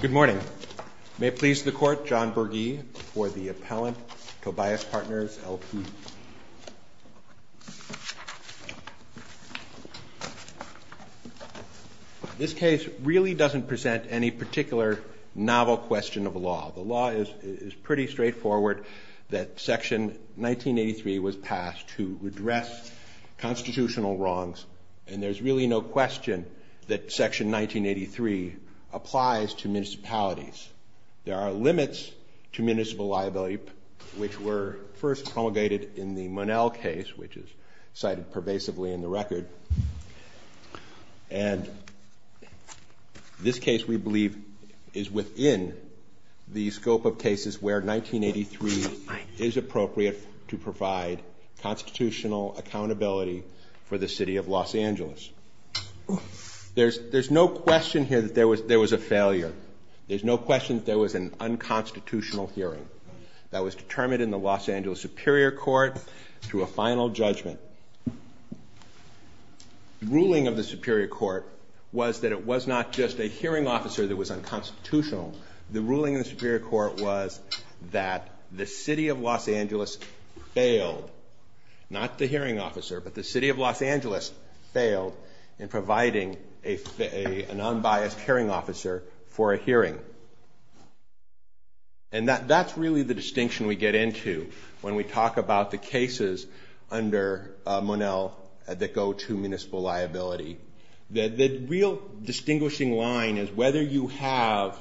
Good morning. May it please the Court, John Berge for the Appellant, Tobias Partners, L.P. This case really doesn't present any particular novel question of law. The law is pretty straightforward that Section 1983 was passed to address constitutional wrongs, and there's really no question that Section 1983 applies to municipalities. There are limits to municipal liability which were first promulgated in the Monell case, which is cited pervasively in the record, and this case we believe is within the scope of cases where 1983 is appropriate to provide constitutional accountability for the City of Los Angeles. There's no question here that there was a failure. There's no question that there was an unconstitutional hearing that was determined in the Los Angeles Superior Court through a final judgment. The ruling of the Superior Court was that it was not just a hearing officer that was unconstitutional. The ruling of the Superior Court was that the City of Los Angeles failed, not the hearing officer, but the City of Los Angeles failed in providing a non-biased hearing officer for a hearing. And that's really the distinction we get into when we talk about the line is whether you have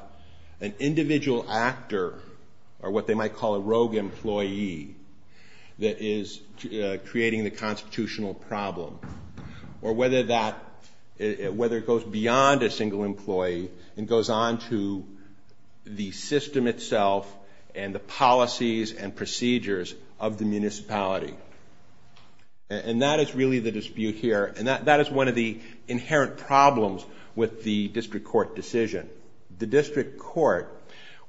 an individual actor, or what they might call a rogue employee, that is creating the constitutional problem, or whether it goes beyond a single employee and goes on to the system itself and the policies and procedures of the municipality. And that is really the dispute here, and that is one of the inherent problems with the district court decision. The district court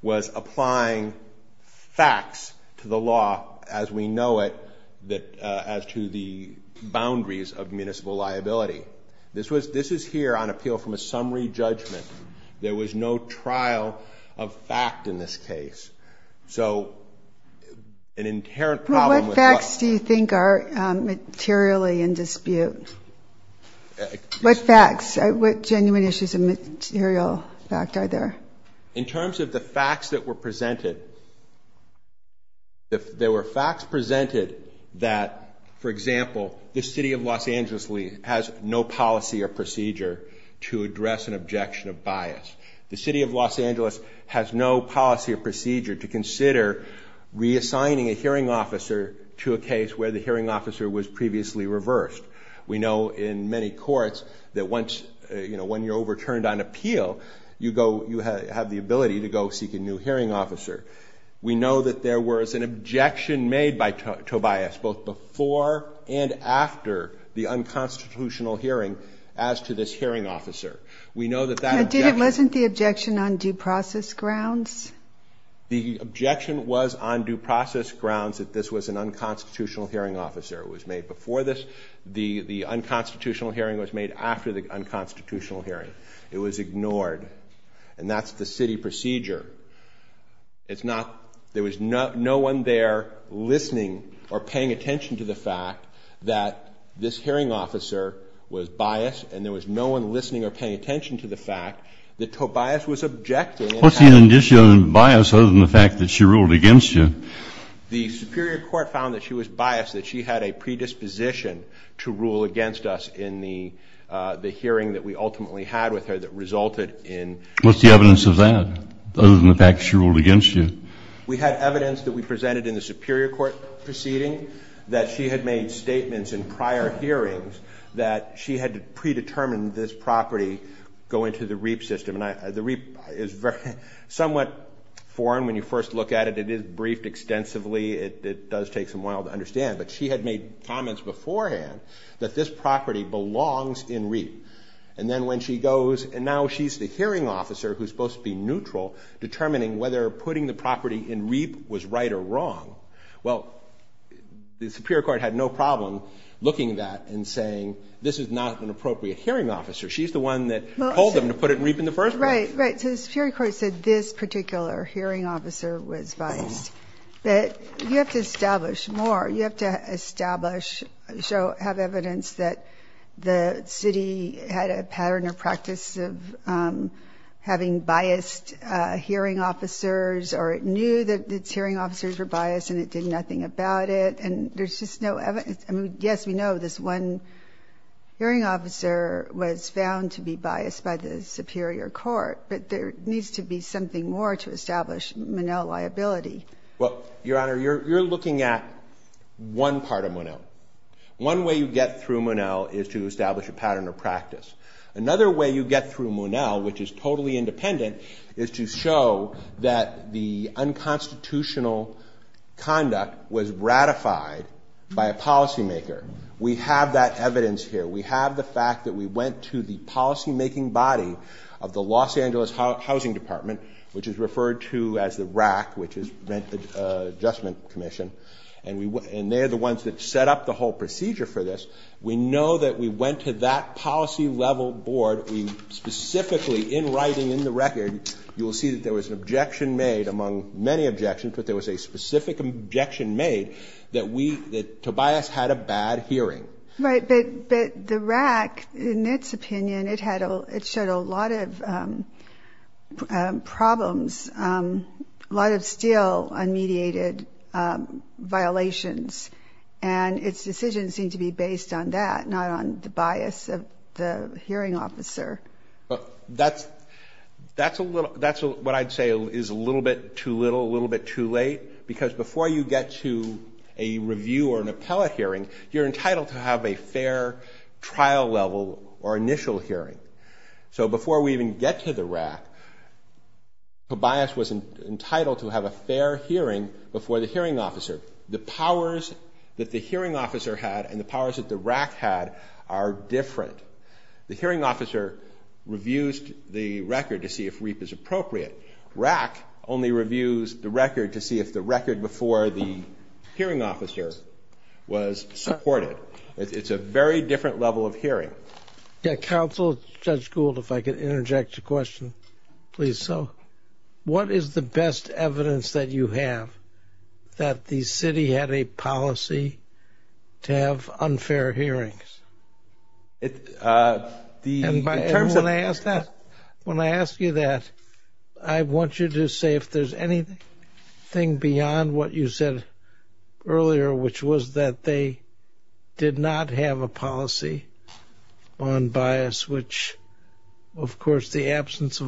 was applying facts to the law as we know it, as to the boundaries of municipal liability. This is here on appeal from a summary judgment. There was no trial of fact in this case. So an inherent problem... What facts do you think are materially in dispute? What facts, what genuine issues of material fact are there? In terms of the facts that were presented, there were facts presented that, for example, the City of Los Angeles has no policy or procedure to address an officer was previously reversed. We know in many courts that once you're overturned on appeal, you have the ability to go seek a new hearing officer. We know that there was an objection made by Tobias, both before and after the unconstitutional hearing, as to this hearing officer. We know that that objection... was made before this. The unconstitutional hearing was made after the unconstitutional hearing. It was ignored. And that's the city procedure. It's not... There was no one there listening or paying attention to the fact that this hearing officer was biased, and there was no one listening or paying attention to the fact that Tobias was objecting. What's the indication of bias other than the fact that she ruled against you? The Superior Court found that she was biased, that she had a predisposition to rule against us in the hearing that we ultimately had with her that resulted in... What's the evidence of that, other than the fact that she ruled against you? We had evidence that we presented in the Superior Court proceeding, that she had made statements in prior hearings that she had predetermined this property go into the REAP system. And the REAP is somewhat foreign when you first look at it. It is briefed extensively. It does take some while to understand. But she had made comments beforehand that this property belongs in REAP. And then when she goes... And now she's the hearing officer who's supposed to be neutral, determining whether putting the property in REAP was right or wrong. Well, the Superior Court had no problem looking at that and saying, this is not an appropriate hearing officer. She's the one that told them to put it in REAP in the first place. Right, right. So the Superior Court said this particular hearing officer was biased. But you have to establish more. You have to establish, show, have evidence that the city had a pattern or practice of having biased hearing officers, or it knew that its hearing officers were biased and it did nothing about it. And there's just no evidence. I mean, yes, we know this one hearing officer was found to be biased by the Superior Court. But there needs to be something more to establish Monell liability. Well, Your Honor, you're looking at one part of Monell. One way you get through Monell is to establish a pattern or practice. Another way you get through Monell, which is totally independent, is to show that the unconstitutional conduct was ratified by a policymaker. We have that evidence here. We have the fact that we went to the policymaking body of the Los Angeles Housing Department, which is referred to as the RAC, which is Rent Adjustment Commission. And they're the ones that set up the whole procedure for this. We know that we went to that and we had a public objection made that Tobias had a bad hearing. Right. But the RAC, in its opinion, it showed a lot of problems, a lot of still unmediated violations. And its decisions seem to be based on that, not on the bias of the hearing officer. That's what I'd say is a little bit too little, a little bit too late, because before you get to a review or an appellate hearing, you're entitled to have a fair trial level or initial hearing. So before we even get to the RAC, Tobias was entitled to have a fair hearing before the hearing officer. The powers that the hearing officer had and the record to see if the record before the hearing officer was supported. It's a very different level of hearing. Yeah. Counsel, Judge Gould, if I could interject a question, please. So what is the best evidence that you have that the city had a policy to have unfair hearings? When I ask you that, I want you to say if there's anything beyond what you said earlier, which was that they did not have a policy on bias, which, of course, the showing that there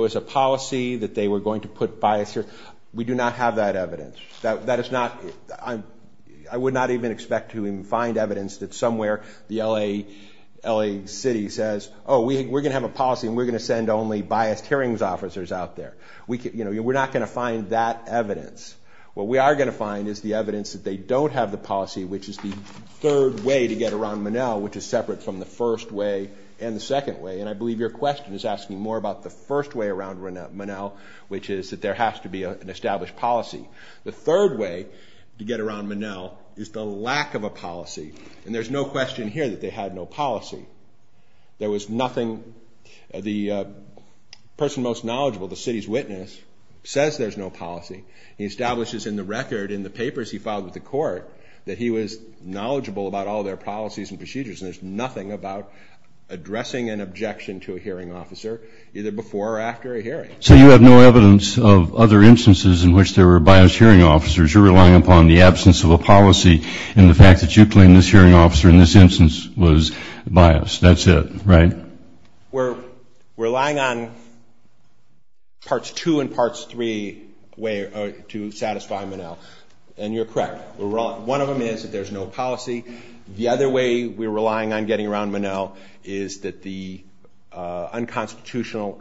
was a policy that they were going to put bias here. We do not have that evidence. That is not, I would not even expect to even find evidence that somewhere the L.A. city says, oh, we're going to have a policy and we're going to send only biased hearings officers out there. We're not going to find that evidence. What we are going to find is the evidence that they don't have the policy, which is the third way to get around Monell, which is separate from the first way and the second way. And I believe your question is asking more about the first way around Monell, which is that there has to be an established policy. The third way to get around Monell is the lack of a policy. And there's no question here that they had no policy. There was nothing, the person most knowledgeable, the city's witness, says there's no policy. He establishes in the record, in the papers he filed with the court, that he was knowledgeable about all their policies and procedures. And there's nothing about addressing an objection to a hearing officer, either before or after a hearing. So you have no evidence of other instances in which there were biased hearing officers. You're relying upon the absence of a policy and the fact that you claim this hearing officer in this instance was biased. That's it, right? We're relying on parts two and parts three to satisfy Monell. And you're correct. One of them is that there's no policy. The other way we're relying on getting around Monell is that the unconstitutional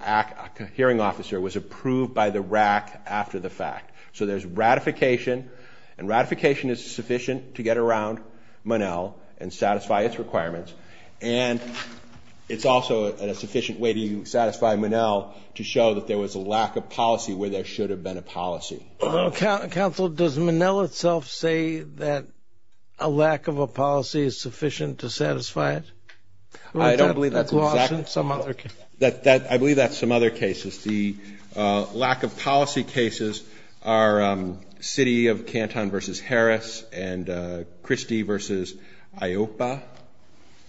hearing officer was approved by the RAC after the fact. So there's ratification, and ratification is sufficient to get around Monell and satisfy its requirements. And it's also a sufficient way to satisfy Monell to show that there was a lack of policy where there should have been a policy. Well, counsel, does Monell itself say that a lack of a policy is sufficient to satisfy it? Or is that lost in some other case? I believe that's some other cases. The lack of policy cases are City of Canton v. Harris and Christie v. Iopa.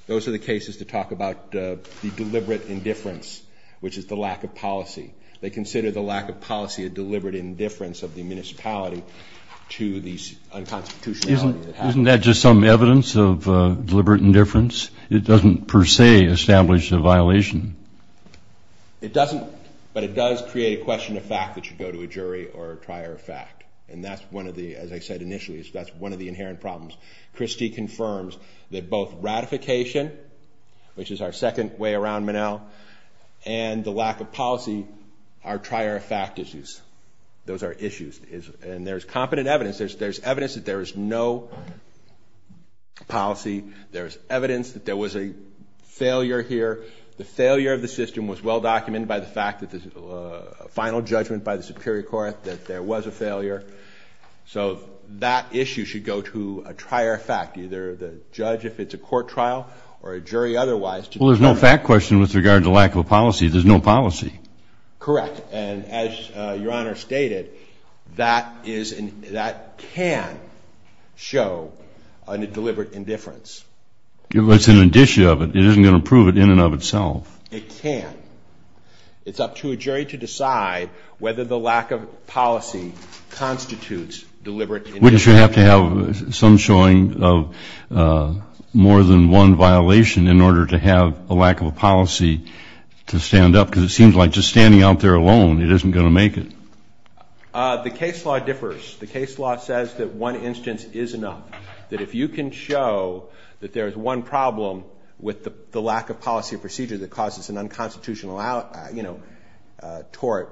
Those are the cases to talk about the deliberate indifference, which is the lack of policy. They consider the lack of policy a deliberate indifference of the municipality to the unconstitutionality that happened. Isn't that just some evidence of deliberate indifference? It doesn't per se establish a violation. It doesn't, but it does create a question of fact that should go to a jury or a prior fact. And that's one of the, as I said initially, that's one of the inherent problems. Christie confirms that both ratification, which is our second way around Monell, and the lack of policy are prior fact issues. Those are issues. And there's competent evidence. There's evidence that there is no policy. There's evidence that there was a failure here. The failure of the system was well documented by the fact that there's a final judgment by the superior court that there was a failure. So that issue should go to a prior fact, either the judge, if it's a court trial, or a jury otherwise. Well, there's no fact question with regard to lack of a policy. There's no policy. Correct. And as Your Honor stated, that is, that can show a deliberate indifference. Well, it's an addition of it. It isn't going to prove it in and of itself. It can. It's up to a jury to decide whether the lack of policy constitutes deliberate indifference. Wouldn't you have to have some showing of more than one violation in order to have a lack of a policy to stand up? Because it seems like just standing out there alone, it isn't going to make it. The case law differs. The case law says that one instance is enough. That if you can show that there is one problem with the lack of policy or procedure that causes an unconstitutional tort,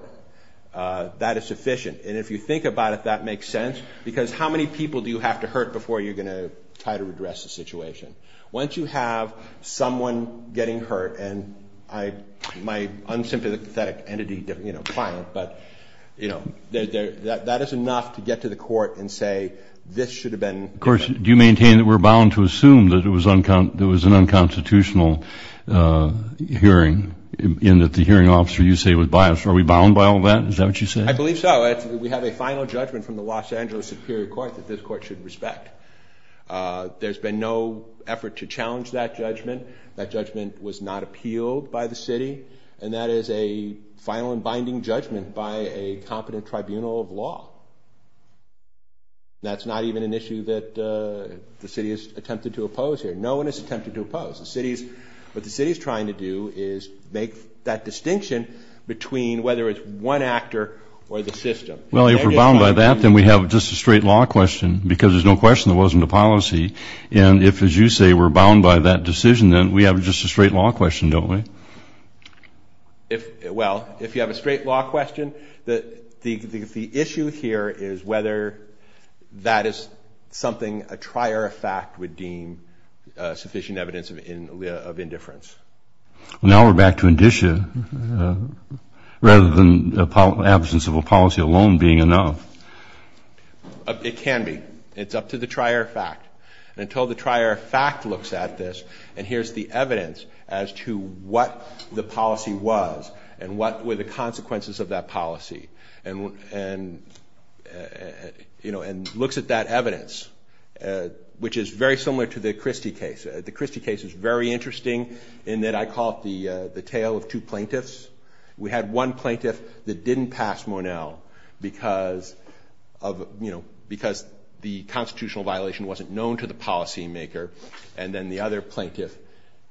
that is sufficient. And if you think about if that makes sense, because how many people do you have to hurt before you're going to try to address the situation? Once you have someone getting hurt, and my unsympathetic entity, client, but that is enough to get to the court and say this should have been. Of course, do you maintain that we're bound to assume that it was an unconstitutional hearing in that the hearing officer you say was biased? Are we bound by all that? Is that what you say? I believe so. We have a final judgment from the Los Angeles Superior Court that this court should respect. There's been no effort to challenge that judgment. That judgment was not appealed by the city. And that is a final and binding judgment by a competent tribunal of law. That's not even an issue that the city has attempted to oppose here. No one has attempted to oppose. What the city is trying to do is make that distinction between whether it's one actor or the system. Well, if we're bound by that, then we have just a straight law question, because there's no question there wasn't a policy. And if, as you say, we're bound by that decision, then we have just a straight law question, don't we? Well, if you have a straight law question, the issue here is whether that is something a trier of fact would deem sufficient evidence of indifference. Well, now we're back to indicia rather than absence of a policy alone being enough. It can be. It's up to the trier of fact. And until the trier of fact looks at this and hears the evidence as to what the policy was and what were the consequences of that policy, and, you know, and looks at that evidence, which is very similar to the Christie case. The Christie case is very interesting in that I call it the tale of two plaintiffs. We had one plaintiff that didn't pass Mornell because of, you know, because the constitutional violation wasn't known to the policymaker. And then the other plaintiff,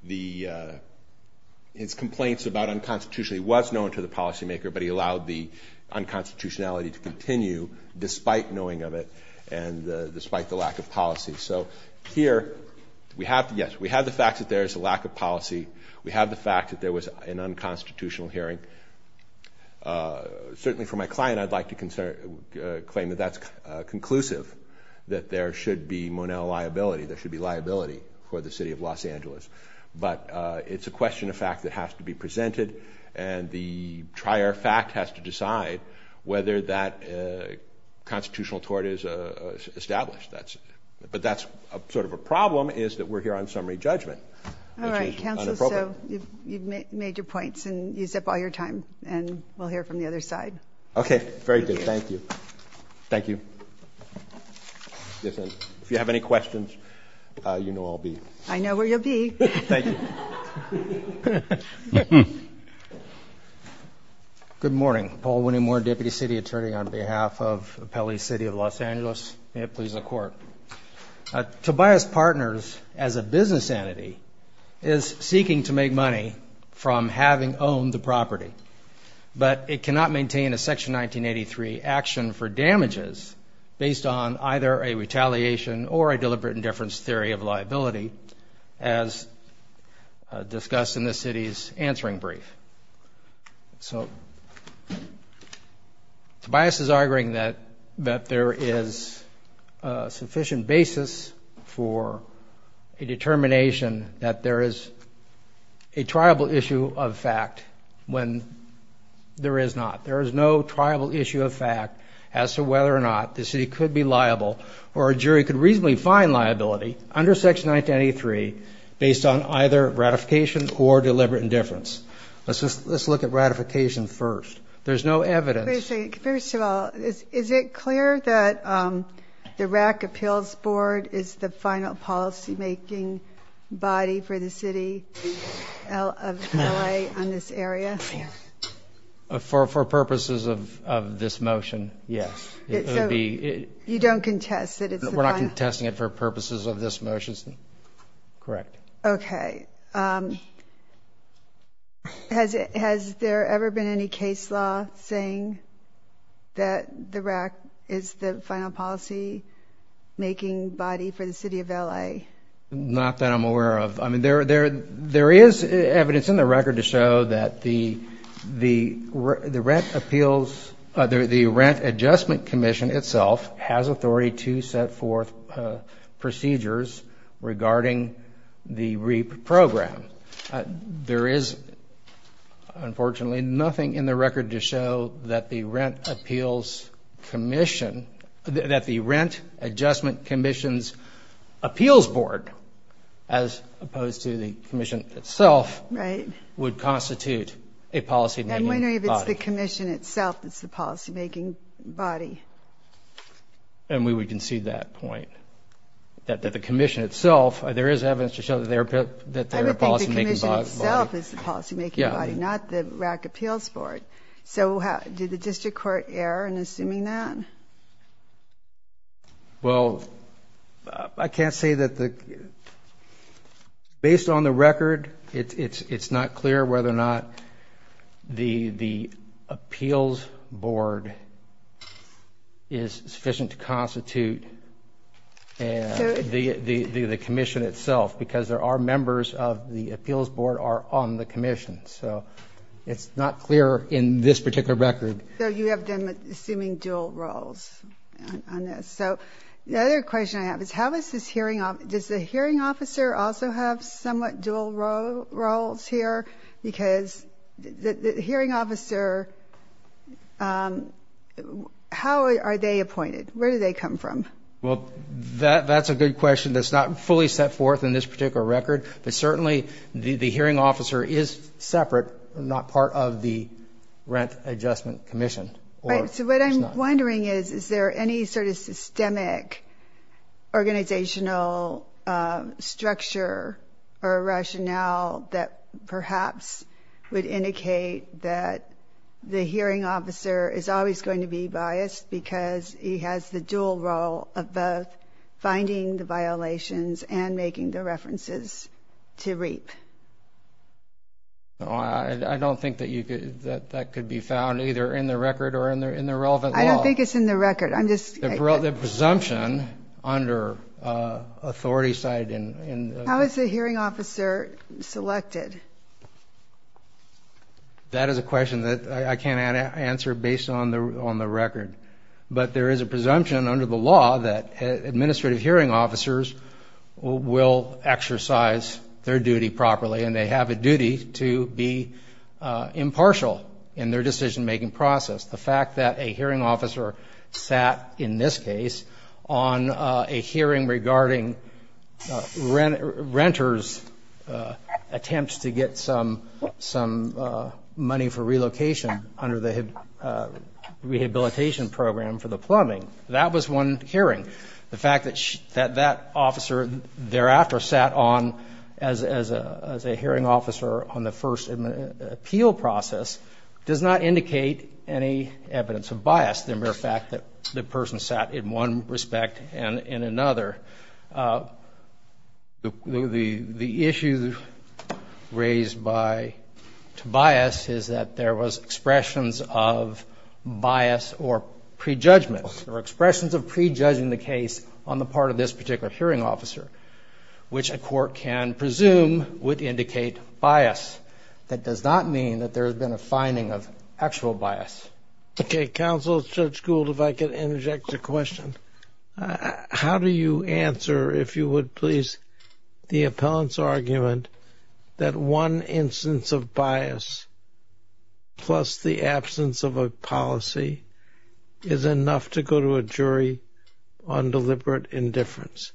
his complaints about unconstitutionality was known to the policymaker, but he allowed the unconstitutionality to continue despite knowing of it and despite the lack of policy. So here, yes, we have the fact that there is a lack of policy. We have the fact that there was an unconstitutional hearing. Certainly for my client, I'd like to claim that that's conclusive, that there should be Mornell liability. There should be liability for the city of Los Angeles. But it's a question of fact that has to be presented, and the trier of fact has to decide whether that constitutional tort is established. But that's sort of a problem is that we're here on summary judgment, which is inappropriate. All right, counsel, so you've made your points, and you zipped all your time, and we'll hear from the other side. Okay, very good. Thank you. Thank you. If you have any questions, you know where I'll be. I know where you'll be. Thank you. Good morning. Paul Winnie Moore, Deputy City Attorney on behalf of Pele City of Los Angeles. May it please the Court. Tobias Partners, as a business entity, is seeking to make money from having owned the property, but it cannot maintain a Section 1983 action for damages based on either a retaliation or a deliberate indifference theory of liability as discussed in this city's answering brief. So Tobias is arguing that there is a sufficient basis for a determination that there is a triable issue of fact when there is not. There is no triable issue of fact as to whether or not the city could be liable or a jury could reasonably find liability under Section 1983 based on either ratification or deliberate indifference. Let's look at ratification first. There's no evidence. Wait a second. First of all, is it clear that the RAC Appeals Board is the final policymaking body for the city of LA on this area? For purposes of this motion, yes. You don't contest it? We're not contesting it for purposes of this motion. Correct. Okay. Has there ever been any case law saying that the RAC is the final policymaking body for the city of LA? Not that I'm aware of. There is evidence in the record to show that the Rent Adjustment Commission itself has authority to set forth procedures regarding the REAP program. There is, unfortunately, nothing in the record to show that the Rent Adjustment Commission's appeals board, as opposed to the commission itself, would constitute a policymaking body. I'm wondering if it's the commission itself that's the policymaking body. And we would concede that point. That the commission itself, there is evidence to show that they're a policymaking body. I would think the commission itself is the policymaking body, not the RAC Appeals Board. So did the district court err in assuming that? Well, I can't say that the – based on the record, it's not clear whether or not the appeals board is sufficient to constitute the commission itself, because there are members of the appeals board are on the commission. So it's not clear in this particular record. So you have them assuming dual roles on this. So the other question I have is how is this hearing – does the hearing officer also have somewhat dual roles here? Because the hearing officer, how are they appointed? Where do they come from? Well, that's a good question that's not fully set forth in this particular record. But certainly the hearing officer is separate, not part of the Rent Adjustment Commission. So what I'm wondering is, is there any sort of systemic organizational structure or rationale that perhaps would indicate that the hearing officer is always going to be biased because he has the dual role of both finding the violations and making the references to reap? No, I don't think that could be found either in the record or in the relevant law. I don't think it's in the record. The presumption under authority side in – How is the hearing officer selected? That is a question that I can't answer based on the record. But there is a presumption under the law that administrative hearing officers will exercise their duty properly, and they have a duty to be impartial in their decision-making process. The fact that a hearing officer sat, in this case, on a hearing regarding renters' attempts to get some money for relocation under the rehabilitation program for the plumbing, that was one hearing. The fact that that officer thereafter sat on as a hearing officer on the first appeal process does not indicate any evidence of bias. The mere fact that the person sat in one respect and in another. The issue raised by Tobias is that there was expressions of bias or prejudgments. There were expressions of prejudging the case on the part of this particular hearing officer, which a court can presume would indicate bias. That does not mean that there has been a finding of actual bias. Okay. Counsel, Judge Gould, if I could interject a question. How do you answer, if you would please, the appellant's argument that one instance of bias plus the absence of a policy is enough to go to a jury on deliberate indifference?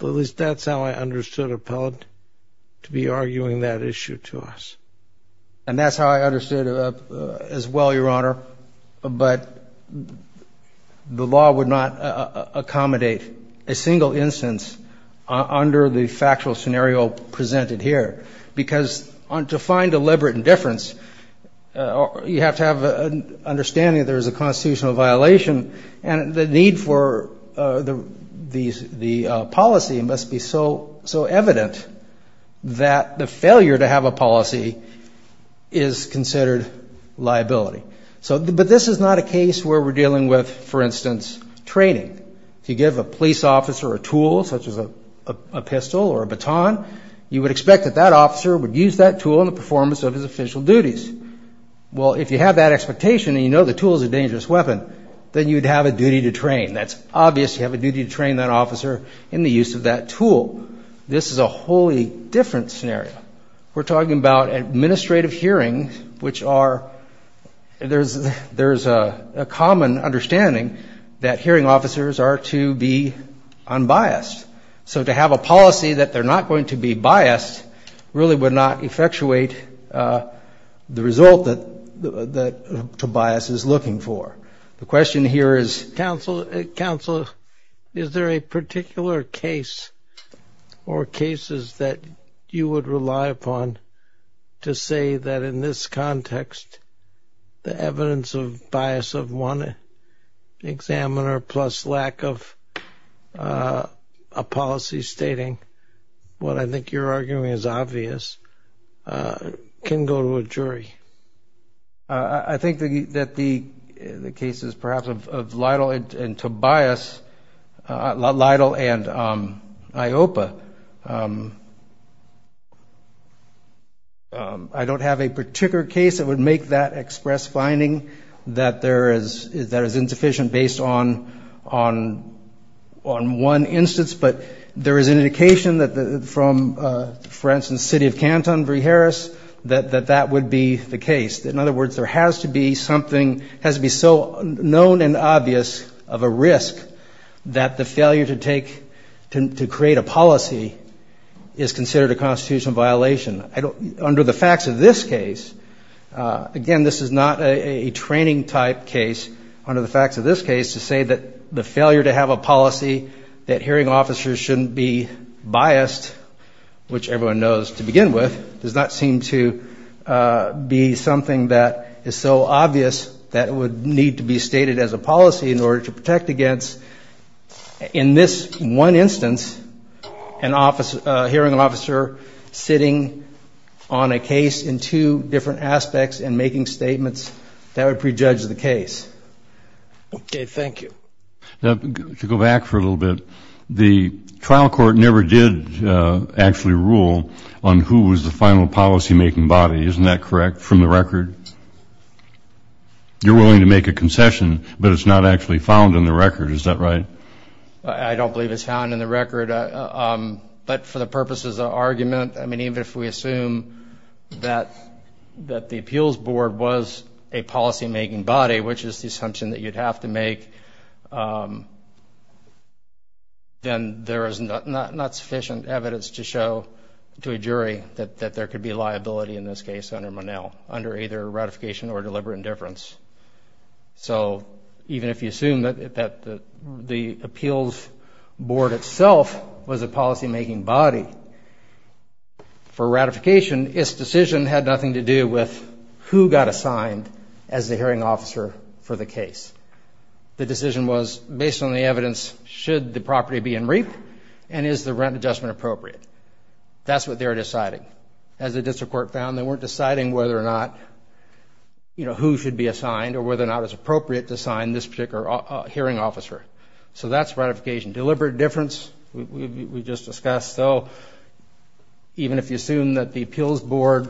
At least that's how I understood appellant to be arguing that issue to us. And that's how I understood it as well, Your Honor. But the law would not accommodate a single instance under the factual scenario presented here. Because to find deliberate indifference, you have to have an understanding that there is a constitutional violation. And the need for the policy must be so evident that the failure to have a policy is considered liability. But this is not a case where we're dealing with, for instance, training. If you give a police officer a tool, such as a pistol or a baton, you would expect that that officer would use that tool in the performance of his official duties. Well, if you have that expectation and you know the tool is a dangerous weapon, then you'd have a duty to train. That's obvious. You have a duty to train that officer in the use of that tool. This is a wholly different scenario. We're talking about administrative hearings, which are – there's a common understanding that hearing officers are to be unbiased. So to have a policy that they're not going to be biased really would not effectuate the result that Tobias is looking for. The question here is, Counsel, is there a particular case or cases that you would rely upon to say that in this context, the evidence of bias of one examiner plus lack of a policy stating what I think you're arguing is obvious can go to a jury? I think that the cases, perhaps, of Lytle and Tobias – Lytle and IOPA – I don't have a particular case that would make that express finding that there is – that is insufficient based on one instance, but there is an indication that from, for instance, the city of Canton, Vreeharris, that that would be the case. In other words, there has to be something – has to be so known and obvious of a risk that the failure to take – to create a policy is considered a constitutional violation. Under the facts of this case – again, this is not a training-type case. Under the facts of this case, to say that the failure to have a policy that hearing officers shouldn't be biased, which everyone knows to begin with, does not seem to be something that is so obvious that it would need to be stated as a policy in order to protect against. In this one instance, a hearing officer sitting on a case in two different aspects and making statements, that would prejudge the case. Okay, thank you. To go back for a little bit, the trial court never did actually rule on who was the final policy-making body. Isn't that correct from the record? You're willing to make a concession, but it's not actually found in the record. Is that right? I don't believe it's found in the record. But for the purposes of argument, I mean, even if we assume that the appeals board was a policy-making body, which is the assumption that you'd have to make, then there is not sufficient evidence to show to a jury that there could be liability in this case under Monell, under either ratification or deliberate indifference. So even if you assume that the appeals board itself was a policy-making body, for ratification, its decision had nothing to do with who got assigned as the hearing officer for the case. The decision was based on the evidence, should the property be in REAP, and is the rent adjustment appropriate? That's what they were deciding. But as the district court found, they weren't deciding whether or not, you know, who should be assigned or whether or not it's appropriate to assign this particular hearing officer. So that's ratification. Deliberate indifference, we just discussed. So even if you assume that the appeals board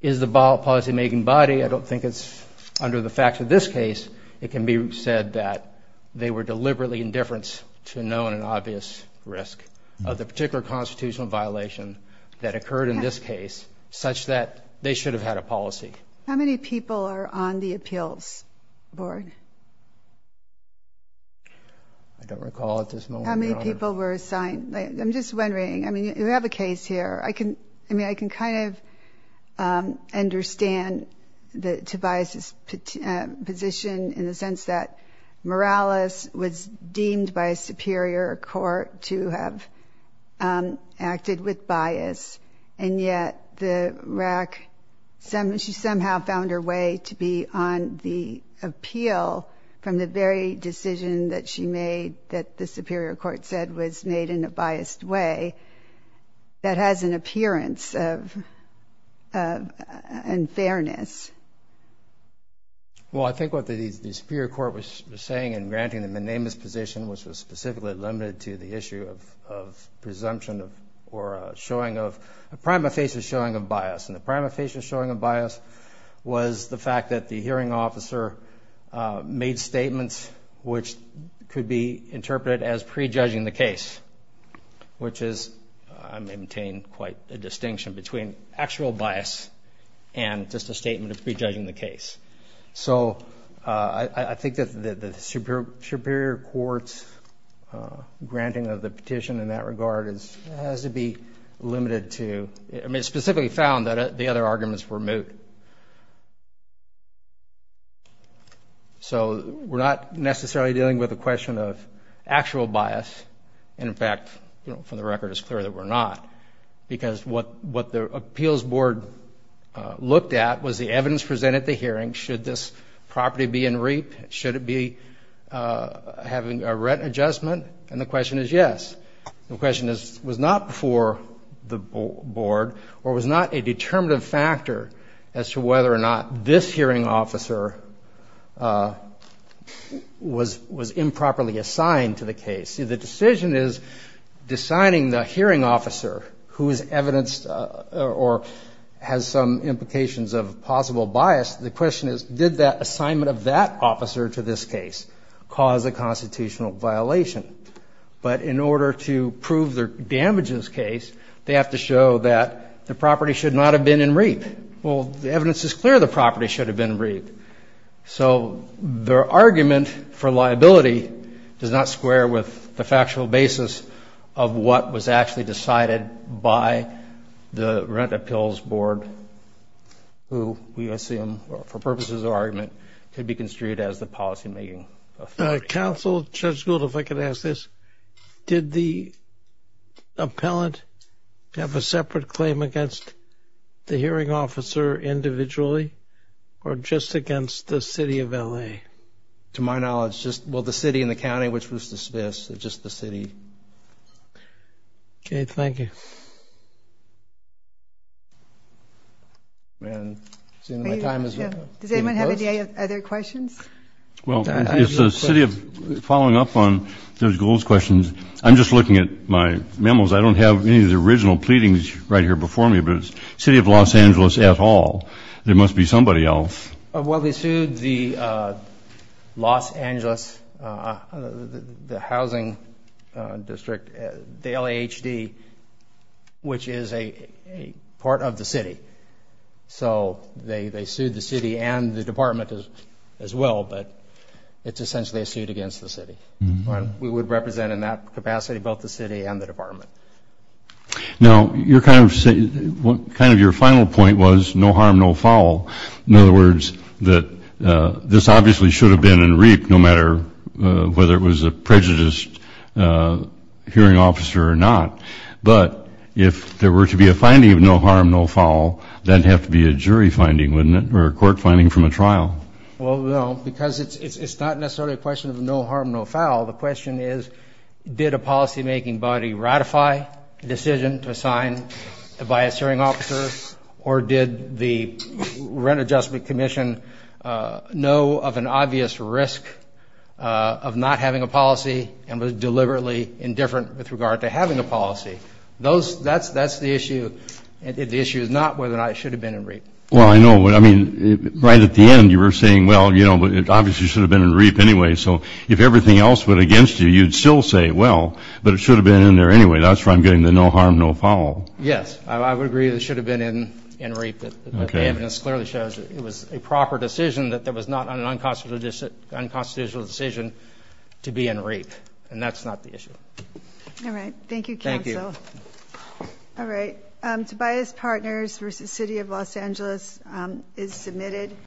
is the policy-making body, I don't think it's under the facts of this case, it can be said that they were deliberately indifferent to known and obvious risk of the particular constitutional violation that occurred in this case such that they should have had a policy. How many people are on the appeals board? I don't recall at this moment, Your Honor. How many people were assigned? I'm just wondering. I mean, you have a case here. I can kind of understand Tobias's position in the sense that Morales was deemed by a superior court to have acted with bias, and yet the RAC, she somehow found her way to be on the appeal from the very decision that she made that the superior court said was made in a biased way that has an appearance of unfairness. Well, I think what the superior court was saying in granting the monamus position, which was specifically limited to the issue of presumption or showing of a prima facie showing of bias, and the prima facie showing of bias was the fact that the hearing officer made statements which could be interpreted as prejudging the case, which is I maintain quite a distinction between actual bias and just a statement of prejudging the case. So I think that the superior court's granting of the petition in that regard has to be limited to, I mean, it specifically found that the other arguments were moot. So we're not necessarily dealing with a question of actual bias. In fact, from the record, it's clear that we're not because what the appeals board looked at was the evidence presented at the hearing. Should this property be in reap? Should it be having a rent adjustment? And the question is yes. The question was not before the board or was not a determinative factor as to whether or not this hearing officer was improperly assigned to the case. You see, the decision is deciding the hearing officer who is evidenced or has some implications of possible bias. The question is did the assignment of that officer to this case cause a constitutional violation? But in order to prove the damages case, they have to show that the property should not have been in reap. Well, the evidence is clear the property should have been in reap. So their argument for liability does not square with the factual basis of what was actually decided by the rent appeals board who we assume for purposes of argument could be construed as the policymaking. Counsel, Judge Gould, if I could ask this. Did the appellant have a separate claim against the hearing officer individually or just against the city of L.A.? To my knowledge, just, well, the city and the county, which was dismissed. It's just the city. Okay, thank you. Does anyone have any other questions? Well, following up on Judge Gould's questions, I'm just looking at my memos. I don't have any of the original pleadings right here before me. But if it's the city of Los Angeles at all, there must be somebody else. Well, they sued the Los Angeles, the housing district, the L.A.H.D., which is a part of the city. So they sued the city and the department as well, but it's essentially a suit against the city. We would represent in that capacity both the city and the department. Now, kind of your final point was no harm, no foul. In other words, this obviously should have been in REAP, no matter whether it was a prejudiced hearing officer or not. But if there were to be a finding of no harm, no foul, that would have to be a jury finding, wouldn't it, or a court finding from a trial? Well, no, because it's not necessarily a question of no harm, no foul. The question is, did a policymaking body ratify a decision to assign a biased hearing officer, or did the Rent Adjustment Commission know of an obvious risk of not having a policy and was deliberately indifferent with regard to having a policy? That's the issue. The issue is not whether or not it should have been in REAP. Well, I know. I mean, right at the end you were saying, well, you know, it obviously should have been in REAP anyway. So if everything else went against you, you'd still say, well, but it should have been in there anyway. That's where I'm getting the no harm, no foul. Yes, I would agree that it should have been in REAP. But the evidence clearly shows that it was a proper decision, that there was not an unconstitutional decision to be in REAP. And that's not the issue. All right. Thank you, counsel. Thank you. All right. Tobias Partners v. City of Los Angeles is submitted.